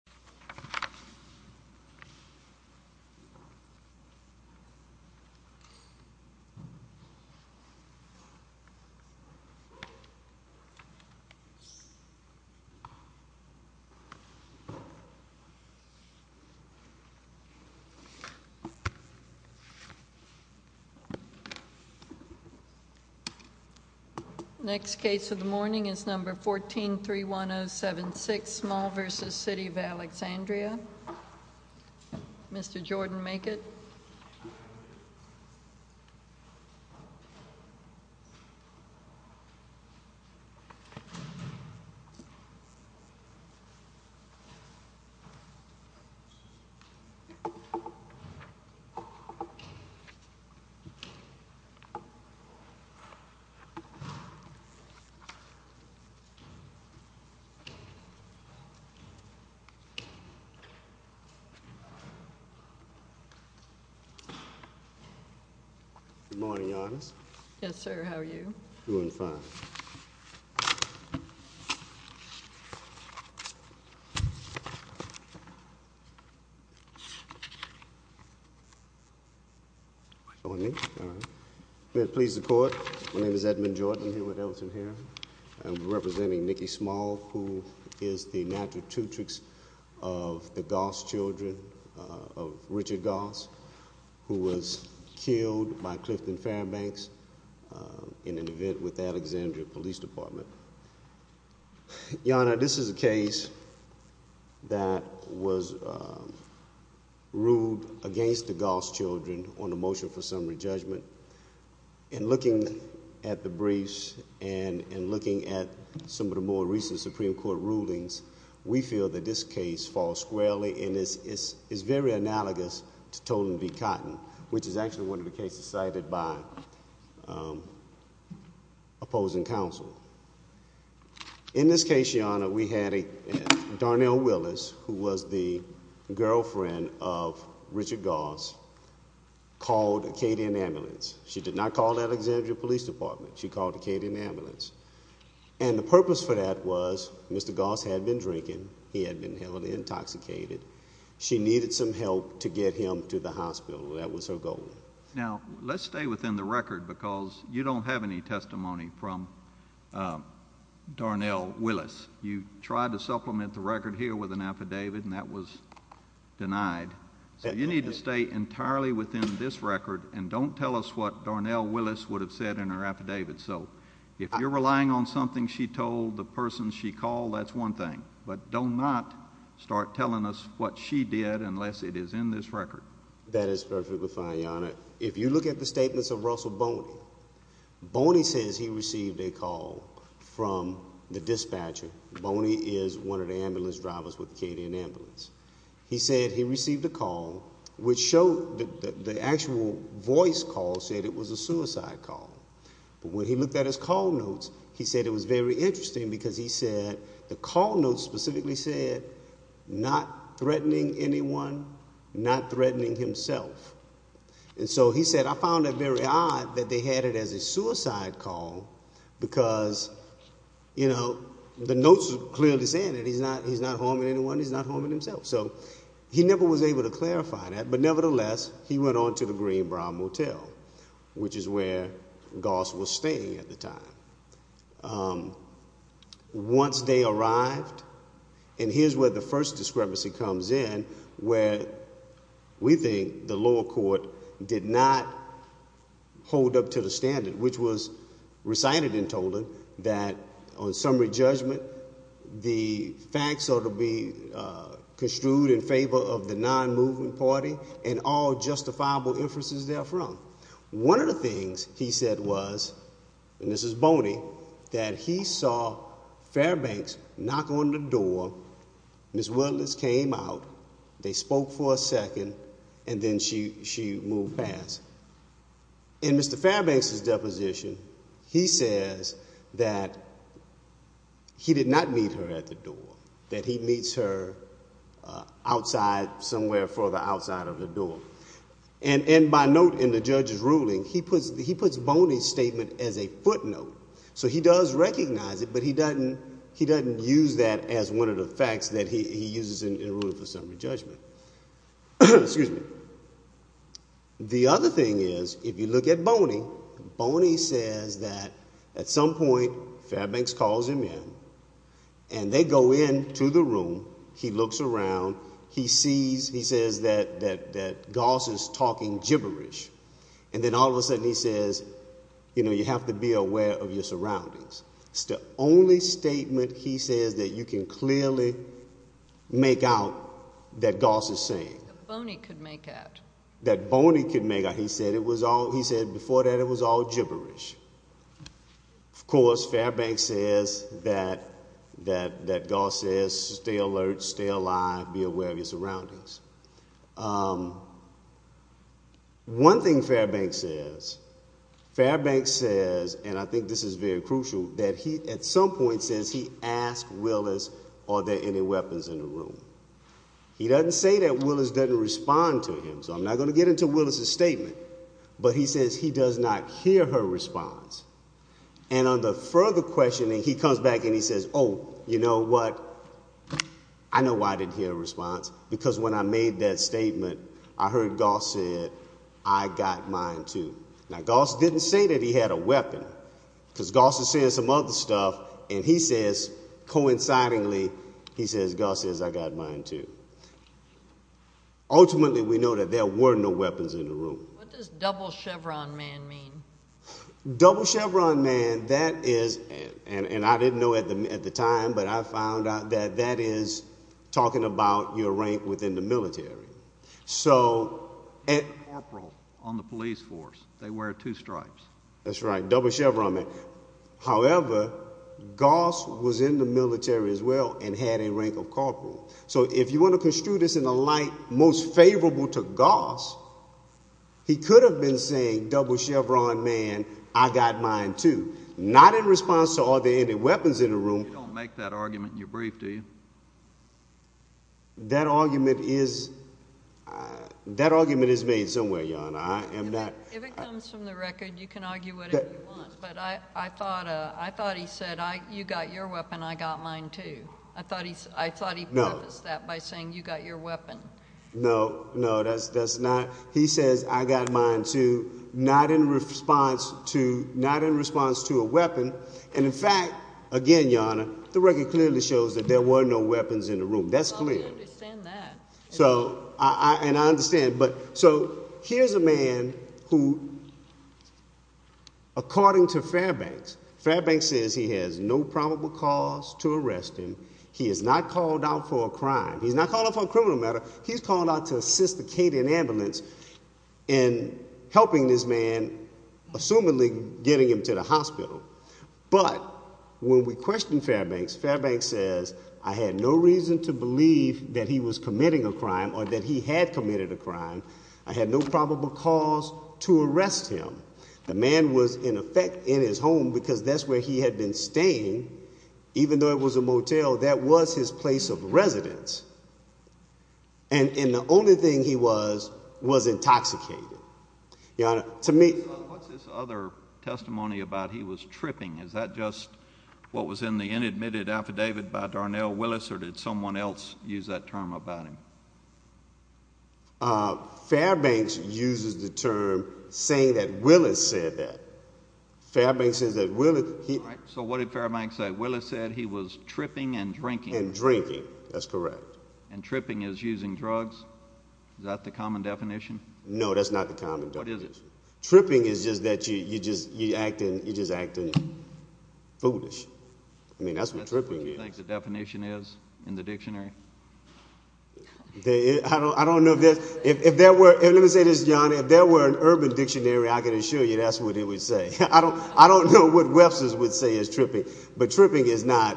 Small v. City of Alexandria Alexandria Mr. Jordan Makett Good morning, Your Honors. Yes, sir. How are you? Doing fine. Good morning, Your Honor. Your Honor, this is a case that was ruled against the Goss children on the motion for summary judgment. In looking at the briefs and in looking at some of the more recent Supreme Court rulings, we feel that this case falls squarely and is very analogous to Toten v. Cotton, which is actually one of the cases cited by opposing counsel. In this case, Your Honor, we had Darnell Willis, who was the girlfriend of Richard Goss, called Acadian Ambulance. She did not call the Alexandria Police Department. She called Acadian Ambulance. And the purpose for that was Mr. Goss had been drinking. He had been heavily intoxicated. She needed some help to get him to the hospital. That was her goal. Now, let's stay within the record because you don't have any testimony from Darnell Willis. You tried to supplement the record here with an affidavit and that was denied. So you need to stay entirely within this record and don't tell us what Darnell Willis would have said in her affidavit. So if you're relying on something she told, the person she called, that's one thing. But don't not start telling us what she did unless it is in this record. That is perfectly fine, Your Honor. If you look at the statements of Russell Boney, Boney says he received a call from the dispatcher. Boney is one of the ambulance drivers with Acadian Ambulance. He said he received a call which showed that the actual voice call said it was a suicide call. But when he looked at his call notes, he said it was very interesting because he said the call notes specifically said, not threatening anyone, not threatening himself. And so he said, I found it very odd that they had it as a suicide call because, you know, the notes were clearly saying that he's not harming anyone, he's not harming himself. So he never was able to clarify that, but nevertheless, he went on to the Green Brow Motel, which is where Goss was staying at the time. Once they arrived, and here's where the first discrepancy comes in, where we think the lower court did not hold up to the standard, which was recited and told him that on summary judgment, the facts ought to be construed in favor of the non-movement party and all justifiable inferences therefrom. One of the things he said was, and this is Boney, that he saw Fairbanks knock on the door, Ms. Willis came out, they spoke for a second, and then she moved past. In Mr. Fairbanks' deposition, he says that he did not meet her at the door, that he meets her outside, somewhere further outside of the door. And by note in the judge's ruling, he puts Boney's statement as a footnote. So he does recognize it, but he doesn't use that as one of the facts that he uses in ruling for summary judgment. Excuse me. The other thing is, if you look at Boney, Boney says that at some point Fairbanks calls him in, and they go into the room, he looks around, he sees, he says that Goss is talking gibberish. And then all of a sudden he says, you know, you have to be aware of your surroundings. It's the only statement he says that you can clearly make out that Goss is saying. That Boney could make out. That Boney could make out. He said before that it was all gibberish. Of course, Fairbanks says that Goss says stay alert, stay alive, be aware of your surroundings. One thing Fairbanks says, Fairbanks says, and I think this is very crucial, that he at some point says he asks Willis, are there any weapons in the room? He doesn't say that Willis doesn't respond to him, so I'm not going to get into Willis's statement, but he says he does not hear her response. And on the further questioning, he comes back and he says, oh, you know what? I know why I didn't hear a response, because when I made that statement, I heard Goss say I got mine, too. Now, Goss didn't say that he had a weapon, because Goss is saying some other stuff, and he says coincidingly, he says Goss says I got mine, too. Ultimately, we know that there were no weapons in the room. What does double chevron man mean? Double chevron man, that is, and I didn't know at the time, but I found out that that is talking about your rank within the military. Corporal on the police force, they wear two stripes. That's right, double chevron man. However, Goss was in the military, as well, and had a rank of corporal. So if you want to construe this in a light most favorable to Goss, he could have been saying double chevron man, I got mine, too. Not in response to are there any weapons in the room. You don't make that argument in your brief, do you? That argument is made somewhere, Your Honor. If it comes from the record, you can argue whatever you want, but I thought he said you got your weapon, I got mine, too. I thought he prefaced that by saying you got your weapon. No, no, that's not. He says I got mine, too, not in response to a weapon, and in fact, again, Your Honor, the record clearly shows that there were no weapons in the room. That's clear. I understand that. And I understand. So here's a man who, according to Fairbanks, Fairbanks says he has no probable cause to arrest him. He is not called out for a crime. He's not called out for a criminal matter. He's called out to assist the Cayden ambulance in helping this man, assumingly getting him to the hospital. But when we question Fairbanks, Fairbanks says I had no reason to believe that he was committing a crime or that he had committed a crime. I had no probable cause to arrest him. The man was, in effect, in his home because that's where he had been staying, even though it was a motel, that was his place of residence. And the only thing he was was intoxicated. Your Honor, to me— What's this other testimony about he was tripping? Is that just what was in the inadmitted affidavit by Darnell Willis, or did someone else use that term about him? Fairbanks uses the term saying that Willis said that. Fairbanks says that Willis— All right. So what did Fairbanks say? Willis said he was tripping and drinking. And drinking. That's correct. And tripping is using drugs? Is that the common definition? No, that's not the common definition. What is it? Tripping is just that you're acting foolish. I mean, that's what tripping is. That's what you think the definition is in the dictionary? I don't know if there's—let me say this, Your Honor. If there were an urban dictionary, I can assure you that's what it would say. I don't know what Webster's would say is tripping, but tripping is not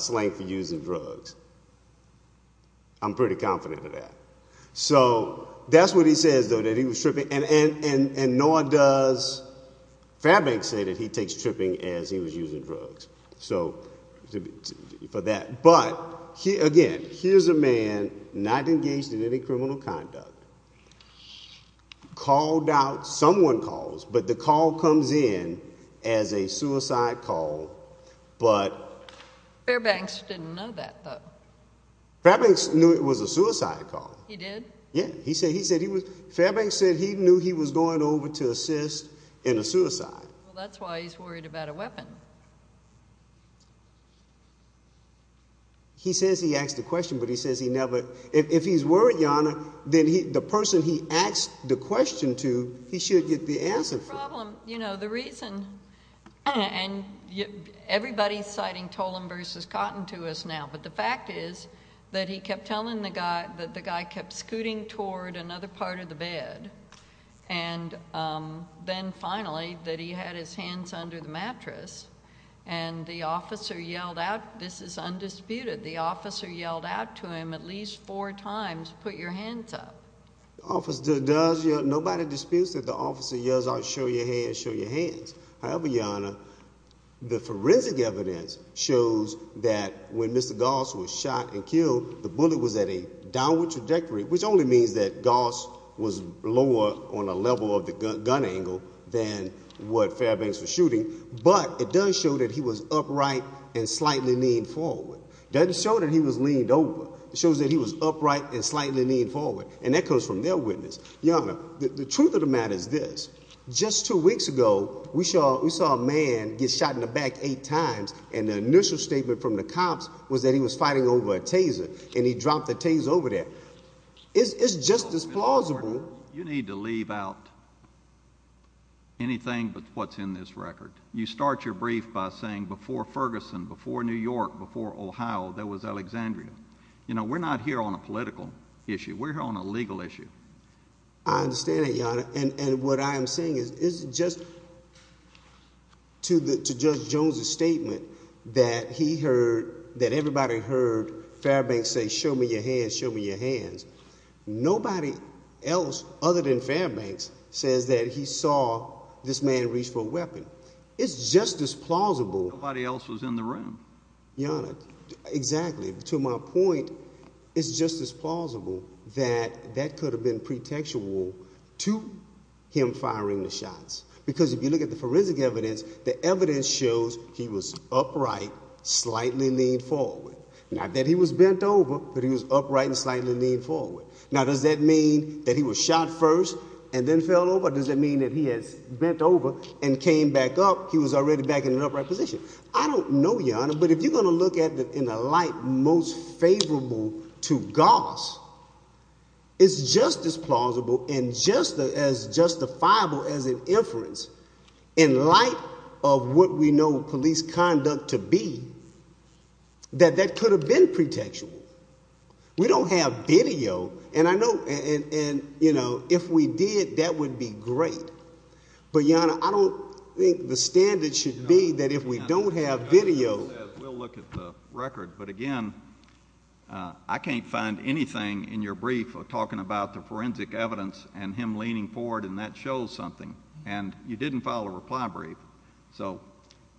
slang for using drugs. I'm pretty confident of that. So that's what he says, though, that he was tripping. And nor does Fairbanks say that he takes tripping as he was using drugs for that. But, again, here's a man not engaged in any criminal conduct, called out—someone calls, but the call comes in as a suicide call, but— Fairbanks didn't know that, though. Fairbanks knew it was a suicide call. He did? Yeah. He said he was—Fairbanks said he knew he was going over to assist in a suicide. Well, that's why he's worried about a weapon. He says he asked a question, but he says he never—if he's worried, Your Honor, then the person he asked the question to, he should get the answer for it. That's the problem. You know, the reason—and everybody's citing Tolan v. Cotton to us now, but the fact is that he kept telling the guy that the guy kept scooting toward another part of the bed, and then finally that he had his hands under the mattress, and the officer yelled out—this is undisputed— the officer yelled out to him at least four times, put your hands up. Nobody disputes that the officer yells out, show your hands, show your hands. However, Your Honor, the forensic evidence shows that when Mr. Goss was shot and killed, the bullet was at a downward trajectory, which only means that Goss was lower on a level of the gun angle than what Fairbanks was shooting, but it does show that he was upright and slightly leaned forward. It doesn't show that he was leaned over. It shows that he was upright and slightly leaned forward, and that comes from their witness. Your Honor, the truth of the matter is this. Just two weeks ago, we saw a man get shot in the back eight times, and the initial statement from the cops was that he was fighting over a Taser, and he dropped the Taser over there. It's just as plausible— You need to leave out anything but what's in this record. You start your brief by saying before Ferguson, before New York, before Ohio, there was Alexandria. You know, we're not here on a political issue. We're here on a legal issue. I understand that, Your Honor, and what I am saying is just to Judge Jones's statement that he heard, that everybody heard Fairbanks say, show me your hands, show me your hands. Nobody else other than Fairbanks says that he saw this man reach for a weapon. It's just as plausible— Nobody else was in the room. Your Honor, exactly. To my point, it's just as plausible that that could have been pretextual to him firing the shots because if you look at the forensic evidence, the evidence shows he was upright, slightly leaned forward. Not that he was bent over, but he was upright and slightly leaned forward. Now, does that mean that he was shot first and then fell over? Does that mean that he had bent over and came back up? He was already back in an upright position. I don't know, Your Honor, but if you're going to look at it in a light most favorable to Goss, it's just as plausible and just as justifiable as an inference in light of what we know police conduct to be that that could have been pretextual. We don't have video, and I know if we did, that would be great. But, Your Honor, I don't think the standard should be that if we don't have video— We'll look at the record. But, again, I can't find anything in your brief talking about the forensic evidence and him leaning forward, and that shows something, and you didn't file a reply brief. So,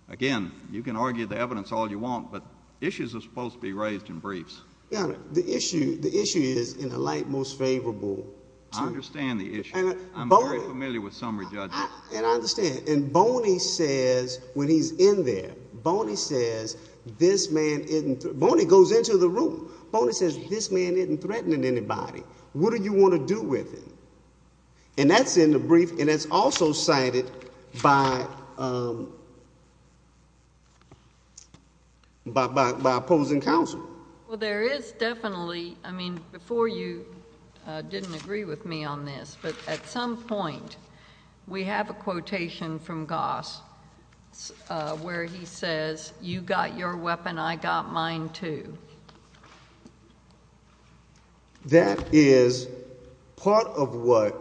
again, you can argue the evidence all you want, but issues are supposed to be raised in briefs. Your Honor, the issue is in a light most favorable to— I understand the issue. I'm very familiar with summary judgment. And I understand. And Boney says when he's in there, Boney says this man isn't—Boney goes into the room. Boney says this man isn't threatening anybody. What do you want to do with him? And that's in the brief, and that's also cited by opposing counsel. Well, there is definitely—I mean, before you didn't agree with me on this, but at some point we have a quotation from Goss where he says, You got your weapon, I got mine, too. That is part of what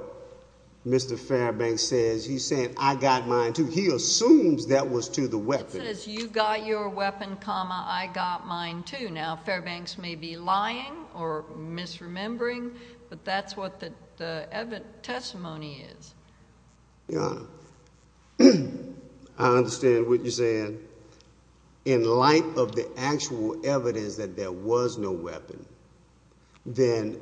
Mr. Fairbank says. He's saying, I got mine, too. He assumes that was to the weapon. He says, You got your weapon, comma, I got mine, too. Now, Fairbanks may be lying or misremembering, but that's what the testimony is. Your Honor, I understand what you're saying. In light of the actual evidence that there was no weapon, then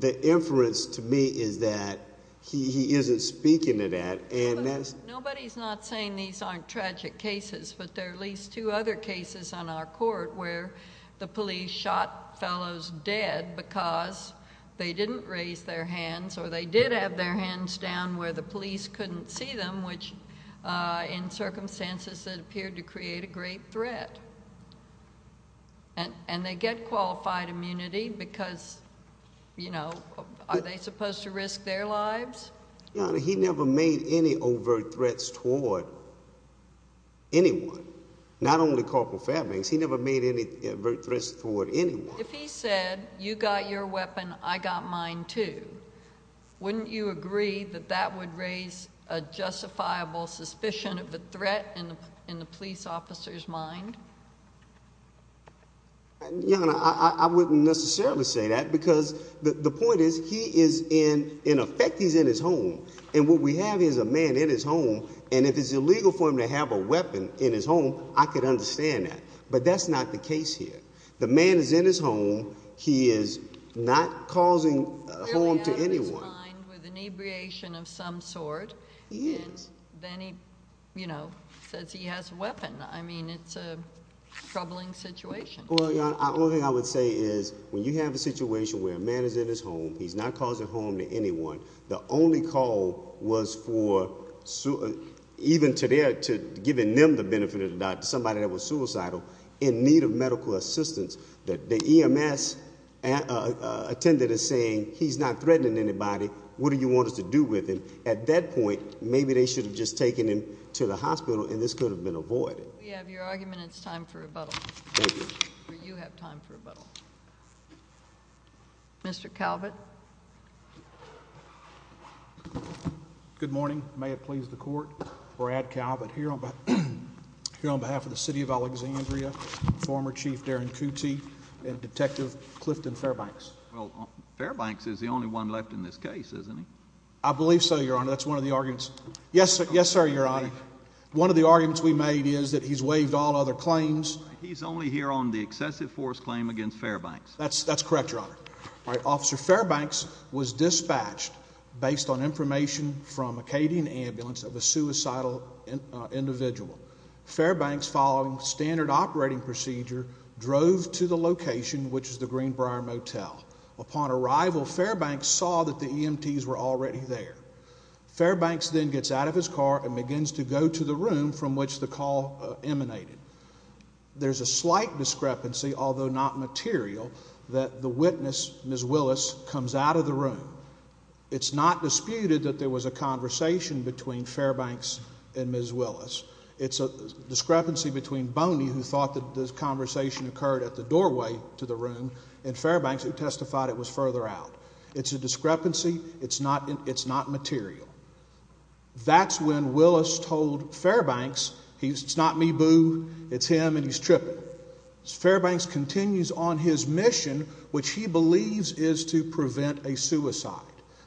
the inference to me is that he isn't speaking to that. Nobody's not saying these aren't tragic cases, but there are at least two other cases on our court where the police shot fellows dead because they didn't raise their hands or they did have their hands down where the police couldn't see them, which in circumstances that appeared to create a great threat. And they get qualified immunity because, you know, are they supposed to risk their lives? Your Honor, he never made any overt threats toward anyone, not only Corporal Fairbanks. He never made any overt threats toward anyone. If he said, You got your weapon, I got mine, too, wouldn't you agree that that would raise a justifiable suspicion of a threat in the police officer's mind? Your Honor, I wouldn't necessarily say that because the point is he is in effect in his home, and what we have is a man in his home, and if it's illegal for him to have a weapon in his home, I could understand that. But that's not the case here. The man is in his home. He is not causing harm to anyone. Clearly out of his mind with inebriation of some sort. He is. Then he, you know, says he has a weapon. I mean, it's a troubling situation. Well, Your Honor, the only thing I would say is when you have a situation where a man is in his home, he's not causing harm to anyone, the only call was for even to giving them the benefit of the doubt, somebody that was suicidal, in need of medical assistance, that the EMS attended is saying, He's not threatening anybody. What do you want us to do with him? At that point, maybe they should have just taken him to the hospital, and this could have been avoided. We have your argument. It's time for rebuttal. Thank you. You have time for rebuttal. Mr. Calvert. Good morning. May it please the Court. Brad Calvert here on behalf of the city of Alexandria, former Chief Darren Cootey, and Detective Clifton Fairbanks. Well, Fairbanks is the only one left in this case, isn't he? I believe so, Your Honor. That's one of the arguments. Yes, sir, Your Honor. One of the arguments we made is that he's waived all other claims. He's only here on the excessive force claim against Fairbanks. That's correct, Your Honor. All right, Officer, Fairbanks was dispatched based on information from Acadian Ambulance of a suicidal individual. Fairbanks, following standard operating procedure, drove to the location, which is the Greenbrier Motel. Upon arrival, Fairbanks saw that the EMTs were already there. Fairbanks then gets out of his car and begins to go to the room from which the call emanated. There's a slight discrepancy, although not material, that the witness, Ms. Willis, comes out of the room. It's not disputed that there was a conversation between Fairbanks and Ms. Willis. It's a discrepancy between Boney, who thought that this conversation occurred at the doorway to the room, and Fairbanks, who testified it was further out. It's a discrepancy. It's not material. That's when Willis told Fairbanks, it's not me, boo, it's him, and he's tripping. Fairbanks continues on his mission, which he believes is to prevent a suicide.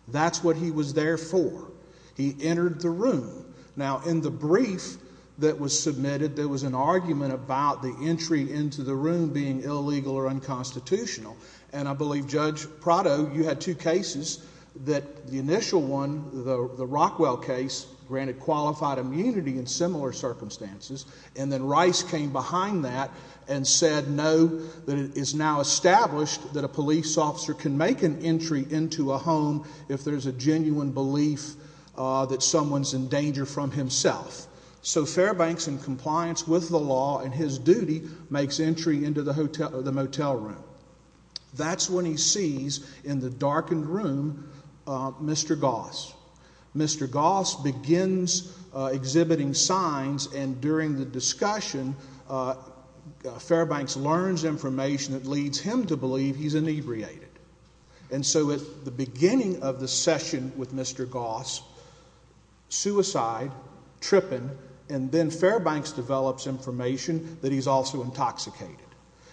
That's what he was there for. He entered the room. Now, in the brief that was submitted, there was an argument about the entry into the room being illegal or unconstitutional, and I believe, Judge Prado, you had two cases. The initial one, the Rockwell case, granted qualified immunity in similar circumstances, and then Rice came behind that and said no, that it is now established that a police officer can make an entry into a home if there's a genuine belief that someone's in danger from himself. So Fairbanks, in compliance with the law in his duty, makes entry into the motel room. That's when he sees in the darkened room Mr. Goss. Mr. Goss begins exhibiting signs, and during the discussion, Fairbanks learns information that leads him to believe he's inebriated. And so at the beginning of the session with Mr. Goss, suicide, tripping, and then Fairbanks develops information that he's also intoxicated.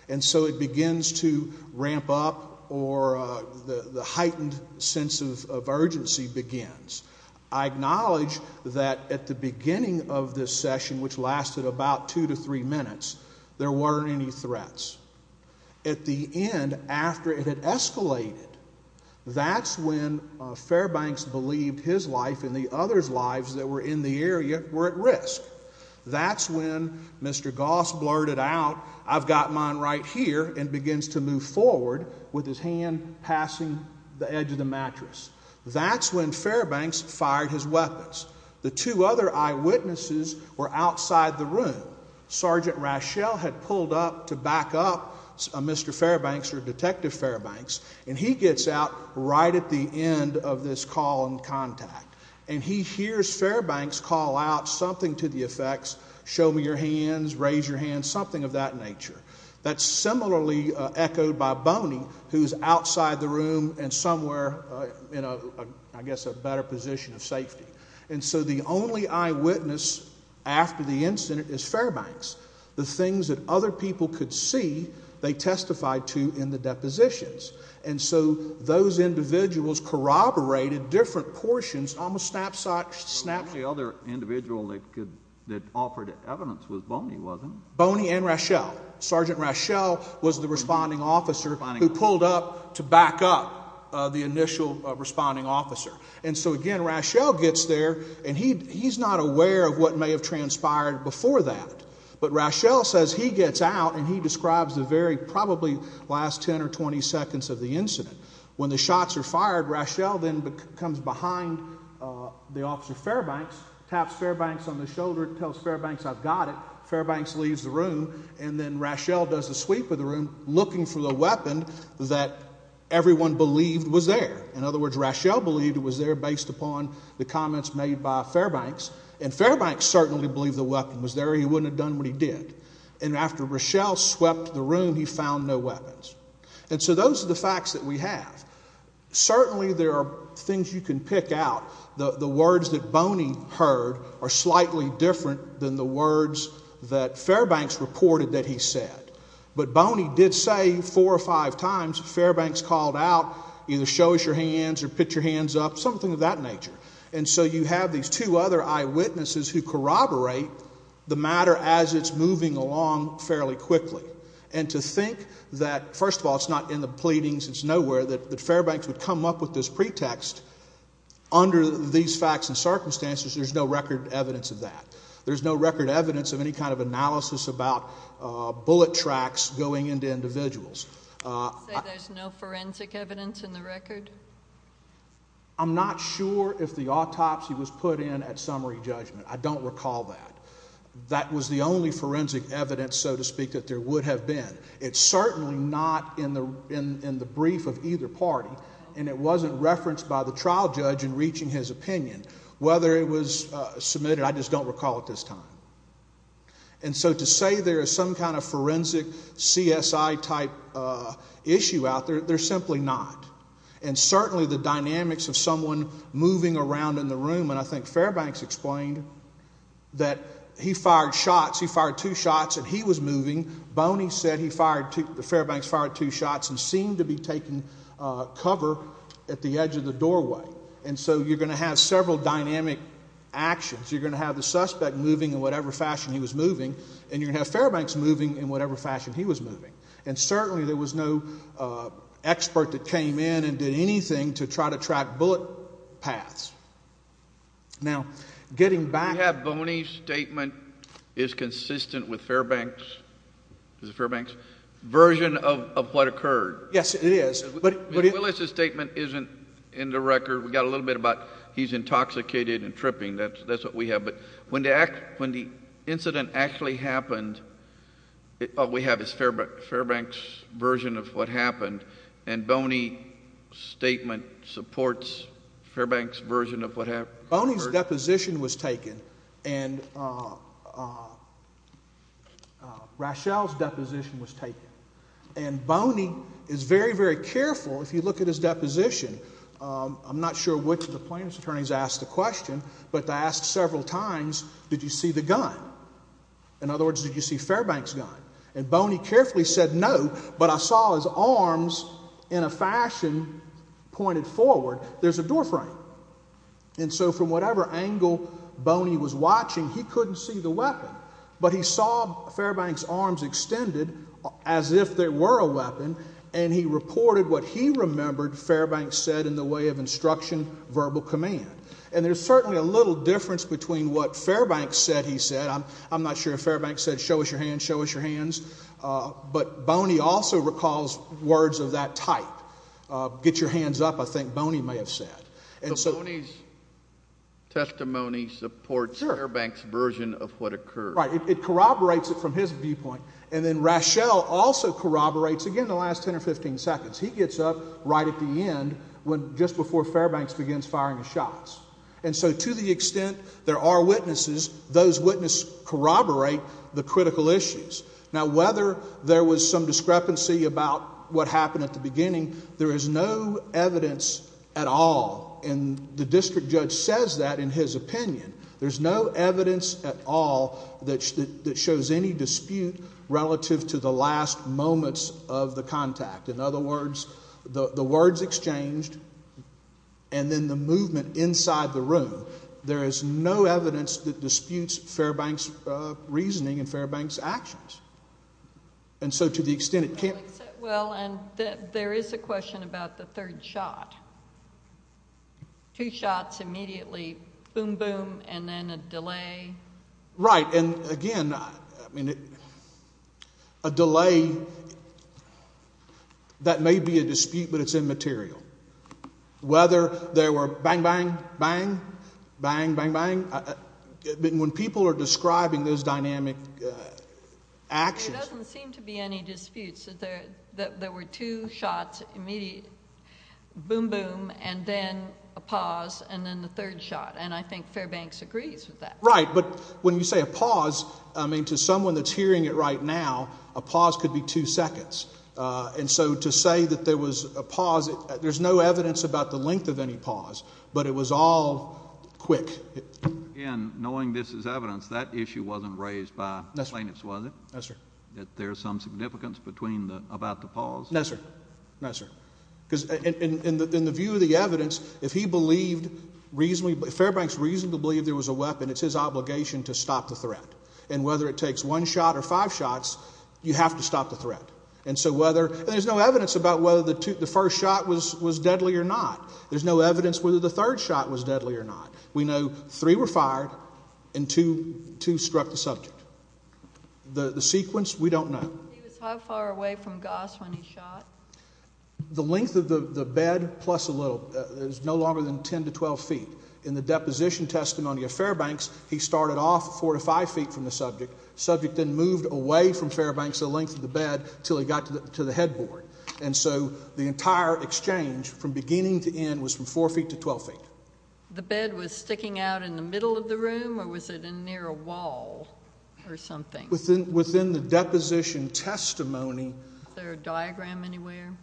And so it begins to ramp up, or the heightened sense of urgency begins. I acknowledge that at the beginning of this session, which lasted about two to three minutes, there weren't any threats. At the end, after it had escalated, that's when Fairbanks believed his life and the others' lives that were in the area were at risk. That's when Mr. Goss blurted out, I've got mine right here, and begins to move forward with his hand passing the edge of the mattress. That's when Fairbanks fired his weapons. The two other eyewitnesses were outside the room. Sergeant Raschel had pulled up to back up Mr. Fairbanks or Detective Fairbanks, and he gets out right at the end of this call and contact. And he hears Fairbanks call out something to the effects, show me your hands, raise your hands, something of that nature. That's similarly echoed by Boney, who's outside the room and somewhere in, I guess, a better position of safety. And so the only eyewitness after the incident is Fairbanks. The things that other people could see, they testified to in the depositions. And so those individuals corroborated different portions, almost snapshot. The other individual that offered evidence was Boney, wasn't it? Boney and Raschel. Sergeant Raschel was the responding officer who pulled up to back up the initial responding officer. And so, again, Raschel gets there, and he's not aware of what may have transpired before that. But Raschel says he gets out, and he describes the very probably last 10 or 20 seconds of the incident. When the shots are fired, Raschel then comes behind the officer Fairbanks, taps Fairbanks on the shoulder, tells Fairbanks, I've got it. Fairbanks leaves the room, and then Raschel does the sweep of the room looking for the weapon that everyone believed was there. In other words, Raschel believed it was there based upon the comments made by Fairbanks, and Fairbanks certainly believed the weapon was there or he wouldn't have done what he did. And after Raschel swept the room, he found no weapons. And so those are the facts that we have. Certainly there are things you can pick out. The words that Boney heard are slightly different than the words that Fairbanks reported that he said. But Boney did say four or five times Fairbanks called out, either show us your hands or put your hands up, something of that nature. And so you have these two other eyewitnesses who corroborate the matter as it's moving along fairly quickly. And to think that, first of all, it's not in the pleadings, it's nowhere, that Fairbanks would come up with this pretext, under these facts and circumstances there's no record evidence of that. There's no bullet tracks going into individuals. You say there's no forensic evidence in the record? I'm not sure if the autopsy was put in at summary judgment. I don't recall that. That was the only forensic evidence, so to speak, that there would have been. It's certainly not in the brief of either party, and it wasn't referenced by the trial judge in reaching his opinion, whether it was submitted, I just don't recall at this time. And so to say there is some kind of forensic CSI-type issue out there, there's simply not. And certainly the dynamics of someone moving around in the room, and I think Fairbanks explained that he fired shots, he fired two shots and he was moving. Boney said the Fairbanks fired two shots and seemed to be taking cover at the edge of the doorway. And so you're going to have several dynamic actions. You're going to have the suspect moving in whatever fashion he was moving, and you're going to have Fairbanks moving in whatever fashion he was moving. And certainly there was no expert that came in and did anything to try to track bullet paths. Now, getting back to the Fairbanks version of what occurred. Yes, it is. Willis's statement isn't in the record. We got a little bit about he's intoxicated and tripping. That's what we have. But when the incident actually happened, all we have is Fairbanks' version of what happened, and Boney's statement supports Fairbanks' version of what happened. Boney's deposition was taken, and Rachelle's deposition was taken. And Boney is very, very careful if you look at his deposition. I'm not sure which of the plaintiff's attorneys asked the question, but they asked several times, did you see the gun? In other words, did you see Fairbanks' gun? And Boney carefully said no, but I saw his arms in a fashion pointed forward. There's a door frame. And so from whatever angle Boney was watching, he couldn't see the weapon. But he saw Fairbanks' arms extended as if they were a weapon, and he reported what he remembered Fairbanks said in the way of instruction verbal command. And there's certainly a little difference between what Fairbanks said he said. I'm not sure if Fairbanks said show us your hands, show us your hands. But Boney also recalls words of that type. Get your hands up, I think Boney may have said. So Boney's testimony supports Fairbanks' version of what occurred. Right. It corroborates it from his viewpoint. And then Raschel also corroborates, again, the last 10 or 15 seconds. He gets up right at the end, just before Fairbanks begins firing his shots. And so to the extent there are witnesses, those witnesses corroborate the critical issues. Now, whether there was some discrepancy about what happened at the beginning, there is no evidence at all, and the district judge says that in his opinion. There's no evidence at all that shows any dispute relative to the last moments of the contact. In other words, the words exchanged and then the movement inside the room, there is no evidence that disputes Fairbanks' reasoning and Fairbanks' actions. And so to the extent it can't. Well, and there is a question about the third shot. Two shots immediately, boom, boom, and then a delay. Right. And, again, I mean, a delay, that may be a dispute, but it's immaterial. Whether there were bang, bang, bang, bang, bang, bang, when people are describing those dynamic actions. There doesn't seem to be any disputes. There were two shots immediately, boom, boom, and then a pause, and then the third shot. And I think Fairbanks agrees with that. Right. But when you say a pause, I mean, to someone that's hearing it right now, a pause could be two seconds. And so to say that there was a pause, there's no evidence about the length of any pause, but it was all quick. Again, knowing this is evidence, that issue wasn't raised by plaintiffs, was it? No, sir. Do you think that there's some significance about the pause? No, sir. No, sir. Because in the view of the evidence, if he believed reasonably, if Fairbanks reasonably believed there was a weapon, it's his obligation to stop the threat. And whether it takes one shot or five shots, you have to stop the threat. And so whether, and there's no evidence about whether the first shot was deadly or not. There's no evidence whether the third shot was deadly or not. We know three were fired and two struck the subject. The sequence, we don't know. He was how far away from Goss when he shot? The length of the bed plus a little. It was no longer than 10 to 12 feet. In the deposition testimony of Fairbanks, he started off 4 to 5 feet from the subject. The subject then moved away from Fairbanks the length of the bed until he got to the headboard. And so the entire exchange from beginning to end was from 4 feet to 12 feet. The bed was sticking out in the middle of the room or was it near a wall or something? Within the deposition testimony. Is there a diagram anywhere? I'm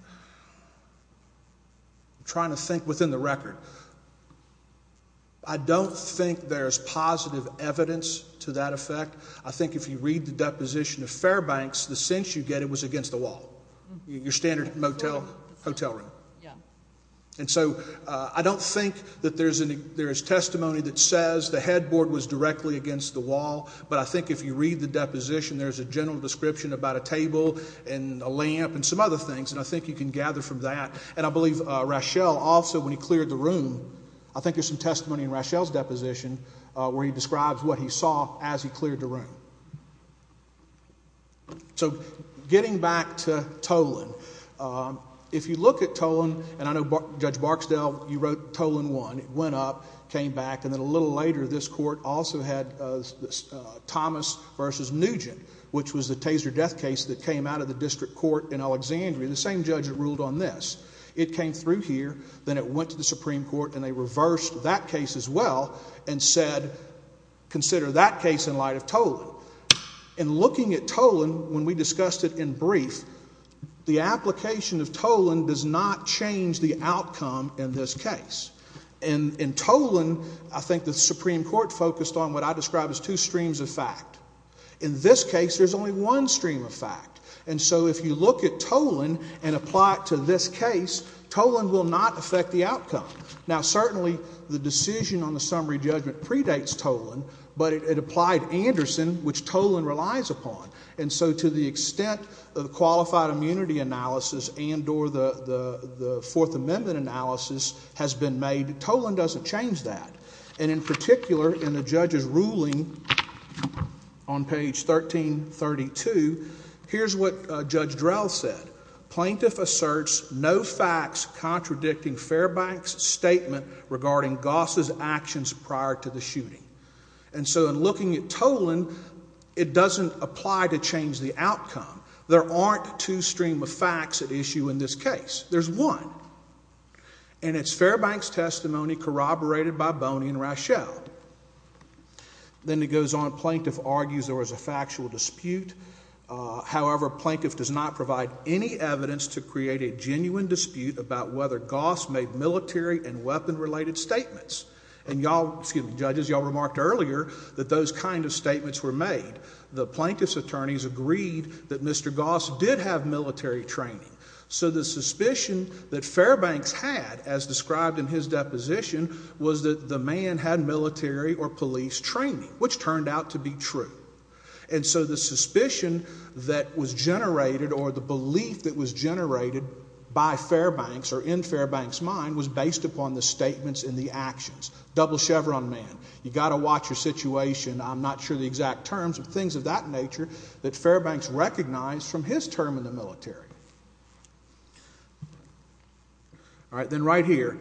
trying to think within the record. I don't think there's positive evidence to that effect. I think if you read the deposition of Fairbanks, the sense you get it was against the wall. Your standard motel, hotel room. And so I don't think that there's testimony that says the headboard was directly against the wall. But I think if you read the deposition, there's a general description about a table and a lamp and some other things. And I think you can gather from that. And I believe Rachele also, when he cleared the room, I think there's some testimony in Rachele's deposition where he describes what he saw as he cleared the room. So getting back to Toland. If you look at Toland, and I know Judge Barksdale, you wrote Toland 1. It went up, came back, and then a little later this court also had Thomas v. Nugent, which was the Taser death case that came out of the district court in Alexandria. The same judge that ruled on this. It came through here, then it went to the Supreme Court, and they reversed that case as well and said, consider that case in light of Toland. And looking at Toland, when we discussed it in brief, the application of Toland does not change the outcome in this case. And in Toland, I think the Supreme Court focused on what I describe as two streams of fact. In this case, there's only one stream of fact. And so if you look at Toland and apply it to this case, Toland will not affect the outcome. Now, certainly the decision on the summary judgment predates Toland, but it applied Anderson, which Toland relies upon. And so to the extent of qualified immunity analysis and or the Fourth Amendment analysis has been made, Toland doesn't change that. And in particular, in the judge's ruling on page 1332, here's what Judge Drell said. Plaintiff asserts no facts contradicting Fairbank's statement regarding Goss's actions prior to the shooting. And so in looking at Toland, it doesn't apply to change the outcome. There aren't two streams of facts at issue in this case. There's one. And it's Fairbank's testimony corroborated by Boney and Rochelle. Then it goes on. Plaintiff argues there was a factual dispute. However, Plaintiff does not provide any evidence to create a genuine dispute about whether Goss made military and weapon-related statements. And y'all, excuse me, judges, y'all remarked earlier that those kind of statements were made. The Plaintiff's attorneys agreed that Mr. Goss did have military training. So the suspicion that Fairbank's had, as described in his deposition, was that the man had military or police training, which turned out to be true. And so the suspicion that was generated or the belief that was generated by Fairbank's or in Fairbank's mind was based upon the statements and the actions. Double chevron man. You've got to watch your situation. I'm not sure the exact terms, but things of that nature that Fairbank's recognized from his term in the military. All right. Then right here.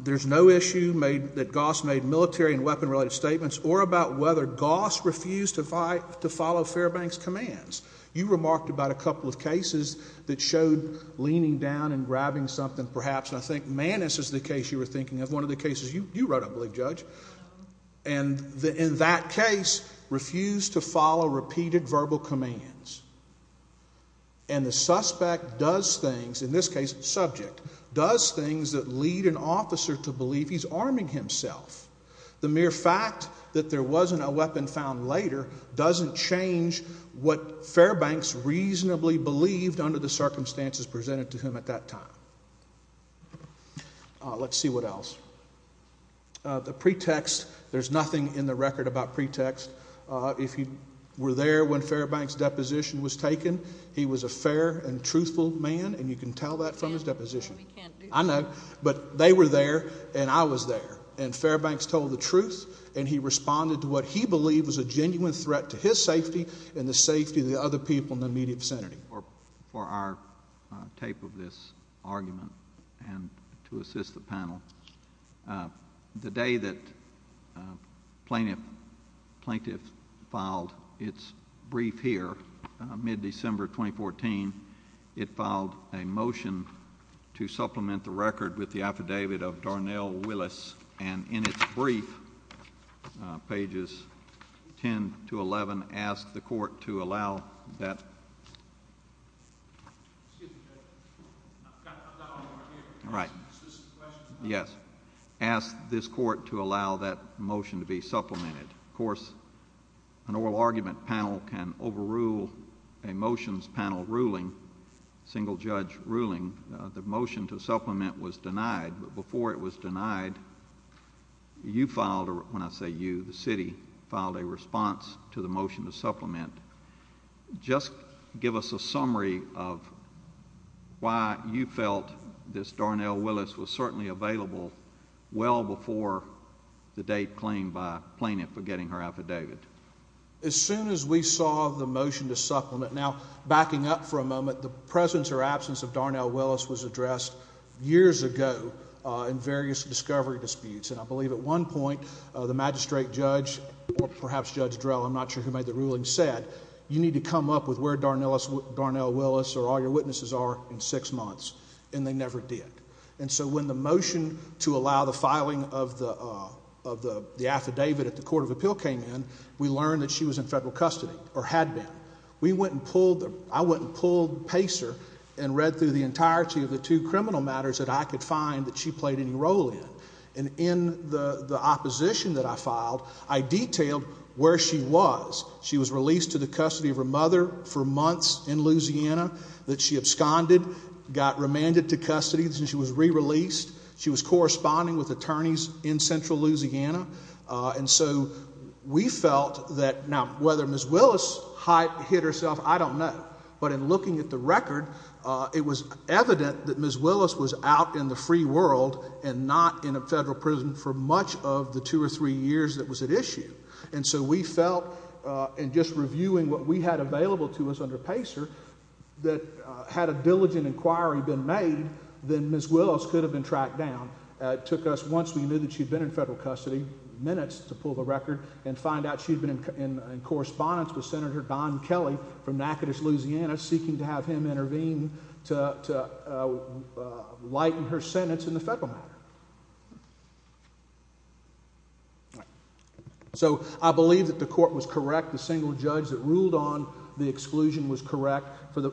There's no issue that Goss made military and weapon-related statements or about whether Goss refused to follow Fairbank's commands. You remarked about a couple of cases that showed leaning down and grabbing something perhaps. And I think Mannis is the case you were thinking of, one of the cases you wrote up, I believe, Judge. And in that case refused to follow repeated verbal commands. And the suspect does things, in this case subject, does things that lead an officer to believe he's arming himself. The mere fact that there wasn't a weapon found later doesn't change what Fairbank's reasonably believed under the circumstances presented to him at that time. Let's see what else. The pretext, there's nothing in the record about pretext. If he were there when Fairbank's deposition was taken, he was a fair and truthful man, and you can tell that from his deposition. I know. But they were there, and I was there. And Fairbank's told the truth, and he responded to what he believed was a genuine threat to his safety and the safety of the other people in the immediate vicinity. Thank you for our tape of this argument and to assist the panel. The day that plaintiff filed its brief here, mid-December 2014, it filed a motion to supplement the record with the affidavit of Darnell Willis. And in its brief, pages 10 to 11, asked the Court to allow that motion to be supplemented. Of course, an oral argument panel can overrule a motions panel ruling, single-judge ruling. The motion to supplement was denied, but before it was denied, you filed, or when I say you, the city filed a response to the motion to supplement. Just give us a summary of why you felt this Darnell Willis was certainly available well before the date claimed by plaintiff for getting her affidavit. As soon as we saw the motion to supplement, now backing up for a moment, the presence or absence of Darnell Willis was addressed years ago in various discovery disputes. And I believe at one point, the magistrate judge, or perhaps Judge Drell, I'm not sure who made the ruling, said, you need to come up with where Darnell Willis or all your witnesses are in six months. And they never did. And so when the motion to allow the filing of the affidavit at the Court of Appeal came in, we learned that she was in federal custody, or had been. We went and pulled, I went and pulled Pacer and read through the entirety of the two criminal matters that I could find that she played any role in. And in the opposition that I filed, I detailed where she was. She was released to the custody of her mother for months in Louisiana that she absconded, got remanded to custody. She was re-released. She was corresponding with attorneys in central Louisiana. And so we felt that now whether Ms. Willis' hype hit herself, I don't know. But in looking at the record, it was evident that Ms. Willis was out in the free world and not in a federal prison for much of the two or three years that was at issue. And so we felt in just reviewing what we had available to us under Pacer that had a diligent inquiry been made, then Ms. Willis could have been tracked down. It took us, once we knew that she had been in federal custody, minutes to pull the record and find out she had been in correspondence with Senator Don Kelly from Natchitoches, Louisiana, seeking to have him intervene to lighten her sentence in the federal matter. All right. So I believe that the court was correct. The single judge that ruled on the exclusion was correct for the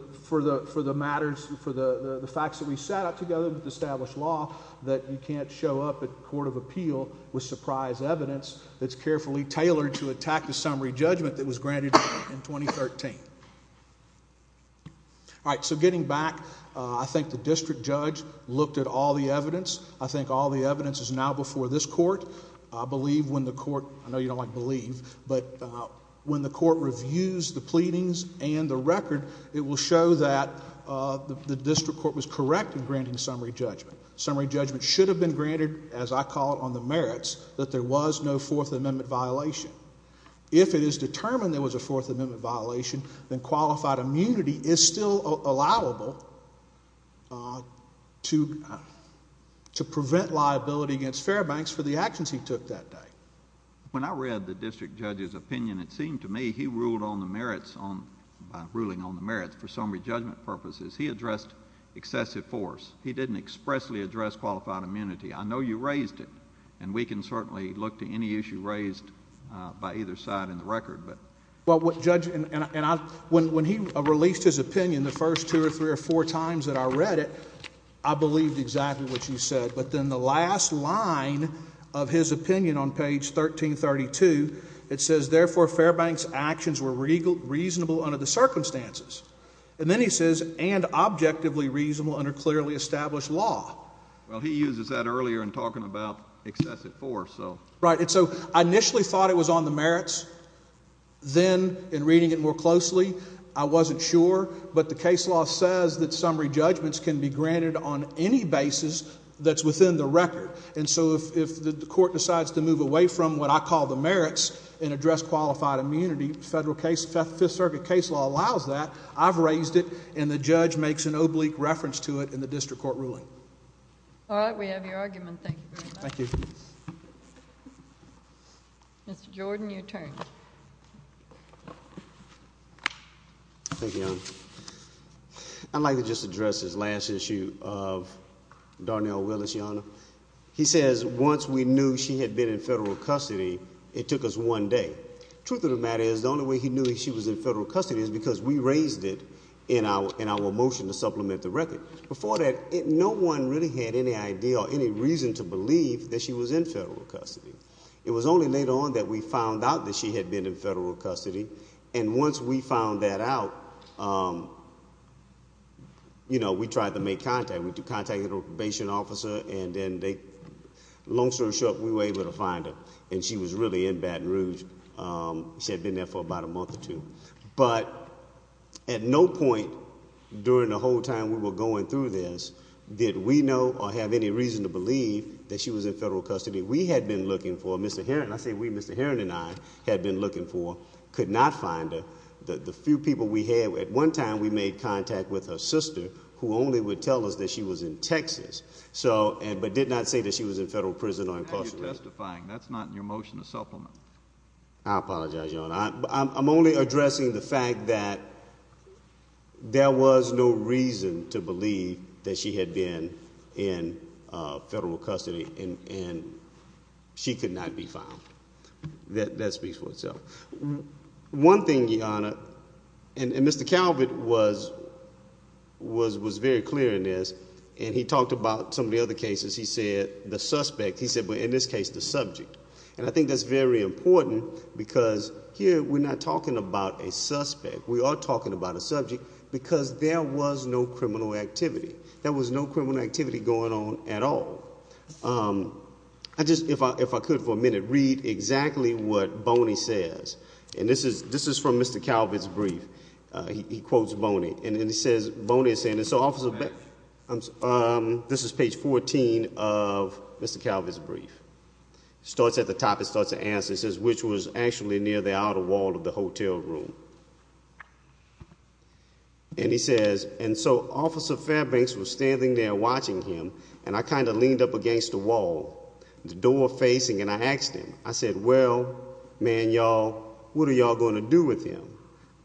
matters, for the facts that we sat out together with the established law, that you can't show up at court of appeal with surprise evidence that's carefully tailored to attack the summary judgment that was granted in 2013. All right. So getting back, I think the district judge looked at all the evidence. I think all the evidence is now before this court. I believe when the court, I know you don't like believe, but when the court reviews the pleadings and the record, it will show that the district court was correct in granting summary judgment. Summary judgment should have been granted, as I call it, on the merits, that there was no Fourth Amendment violation. If it is determined there was a Fourth Amendment violation, then qualified immunity is still allowable to prevent liability against Fairbanks for the actions he took that day. When I read the district judge's opinion, it seemed to me he ruled on the merits, by ruling on the merits, for summary judgment purposes. He addressed excessive force. He didn't expressly address qualified immunity. I know you raised it, and we can certainly look to any issue raised by either side in the record. Well, Judge, when he released his opinion the first two or three or four times that I read it, I believed exactly what you said. But then the last line of his opinion on page 1332, it says, therefore, Fairbanks' actions were reasonable under the circumstances. And then he says, and objectively reasonable under clearly established law. Well, he uses that earlier in talking about excessive force. Right. And so I initially thought it was on the merits. Then, in reading it more closely, I wasn't sure. But the case law says that summary judgments can be granted on any basis that's within the record. And so if the court decides to move away from what I call the merits and address qualified immunity, the Fifth Circuit case law allows that, I've raised it, and the judge makes an oblique reference to it in the district court ruling. All right, we have your argument. Thank you very much. Thank you. Mr. Jordan, your turn. Thank you, Your Honor. I'd like to just address this last issue of Darnell Willis, Your Honor. He says once we knew she had been in federal custody, it took us one day. The truth of the matter is, the only way he knew she was in federal custody is because we raised it in our motion to supplement the record. Before that, no one really had any idea or any reason to believe that she was in federal custody. It was only later on that we found out that she had been in federal custody. And once we found that out, we tried to make contact. We contacted a probation officer, and then long story short, we were able to find her. And she was really in Baton Rouge. She had been there for about a month or two. But at no point during the whole time we were going through this did we know or have any reason to believe that she was in federal custody. We had been looking for her. Mr. Heron, I say we. Mr. Heron and I had been looking for her, could not find her. The few people we had, at one time we made contact with her sister, who only would tell us that she was in Texas, but did not say that she was in federal prison or incarcerated. Now you're testifying. That's not in your motion to supplement. I apologize, Your Honor. I'm only addressing the fact that there was no reason to believe that she had been in federal custody, and she could not be found. That speaks for itself. One thing, Your Honor, and Mr. Calvert was very clear in this, and he talked about some of the other cases. He said the suspect, he said in this case the subject. And I think that's very important because here we're not talking about a suspect. We are talking about a subject because there was no criminal activity. There was no criminal activity going on at all. I just, if I could for a minute, read exactly what Boney says. And this is from Mr. Calvert's brief. He quotes Boney. And then he says, Boney is saying, and so this is page 14 of Mr. Calvert's brief. Starts at the top, it starts to answer. It says, which was actually near the outer wall of the hotel room. And he says, and so Officer Fairbanks was standing there watching him, and I kind of leaned up against the wall, the door facing, and I asked him. I said, well, man, y'all, what are y'all going to do with him?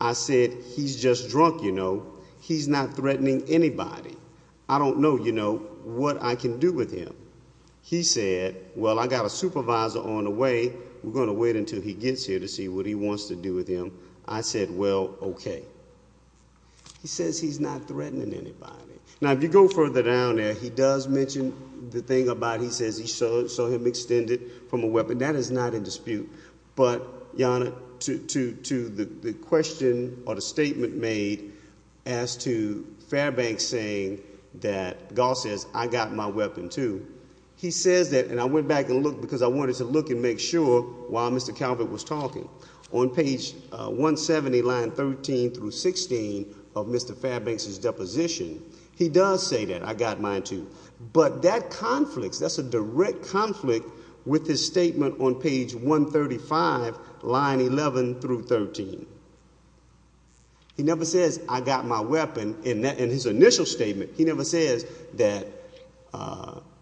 I said, he's just drunk, you know. He's not threatening anybody. I don't know, you know, what I can do with him. He said, well, I got a supervisor on the way. We're going to wait until he gets here to see what he wants to do with him. I said, well, okay. He says he's not threatening anybody. Now, if you go further down there, he does mention the thing about he says he saw him extended from a weapon. That is not in dispute. But, Your Honor, to the question or the statement made as to Fairbanks saying that Goss says, I got my weapon too. He says that, and I went back and looked because I wanted to look and make sure while Mr. Calvert was talking. On page 170, line 13 through 16 of Mr. Fairbanks' deposition, he does say that, I got mine too. But that conflict, that's a direct conflict with his statement on page 135, line 11 through 13. He never says, I got my weapon in his initial statement. He never says that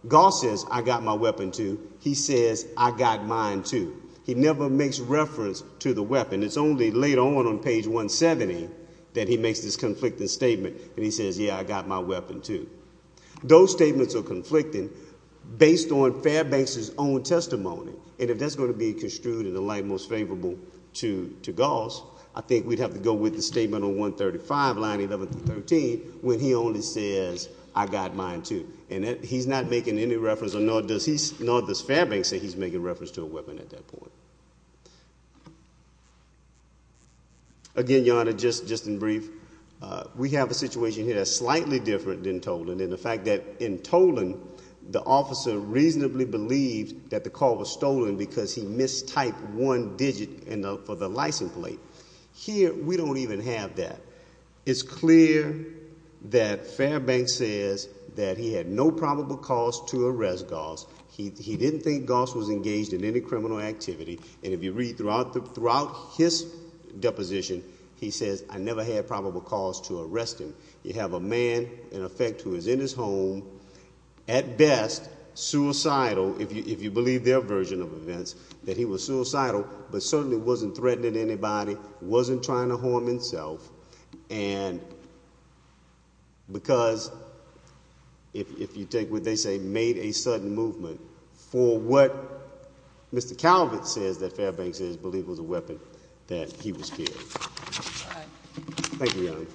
Goss says, I got my weapon too. He says, I got mine too. He never makes reference to the weapon. It's only later on on page 170 that he makes this conflicting statement, and he says, yeah, I got my weapon too. Those statements are conflicting based on Fairbanks' own testimony, and if that's going to be construed in the light most favorable to Goss, I think we'd have to go with the statement on 135, line 11 through 13, when he only says, I got mine too. And he's not making any reference, nor does Fairbanks say he's making reference to a weapon at that point. Again, Your Honor, just in brief, we have a situation here that's slightly different than Toland, and the fact that in Toland, the officer reasonably believed that the call was stolen because he mistyped one digit for the license plate. Here, we don't even have that. It's clear that Fairbanks says that he had no probable cause to arrest Goss. He didn't think Goss was engaged in any criminal activity, and if you read throughout his deposition, he says, I never had probable cause to arrest him. You have a man, in effect, who is in his home, at best suicidal, if you believe their version of events, that he was suicidal, but certainly wasn't threatening anybody, wasn't trying to harm himself, and because, if you take what they say, made a sudden movement for what Mr. Calvert says that Fairbanks says, believe was a weapon, that he was killed. Thank you, Your Honor.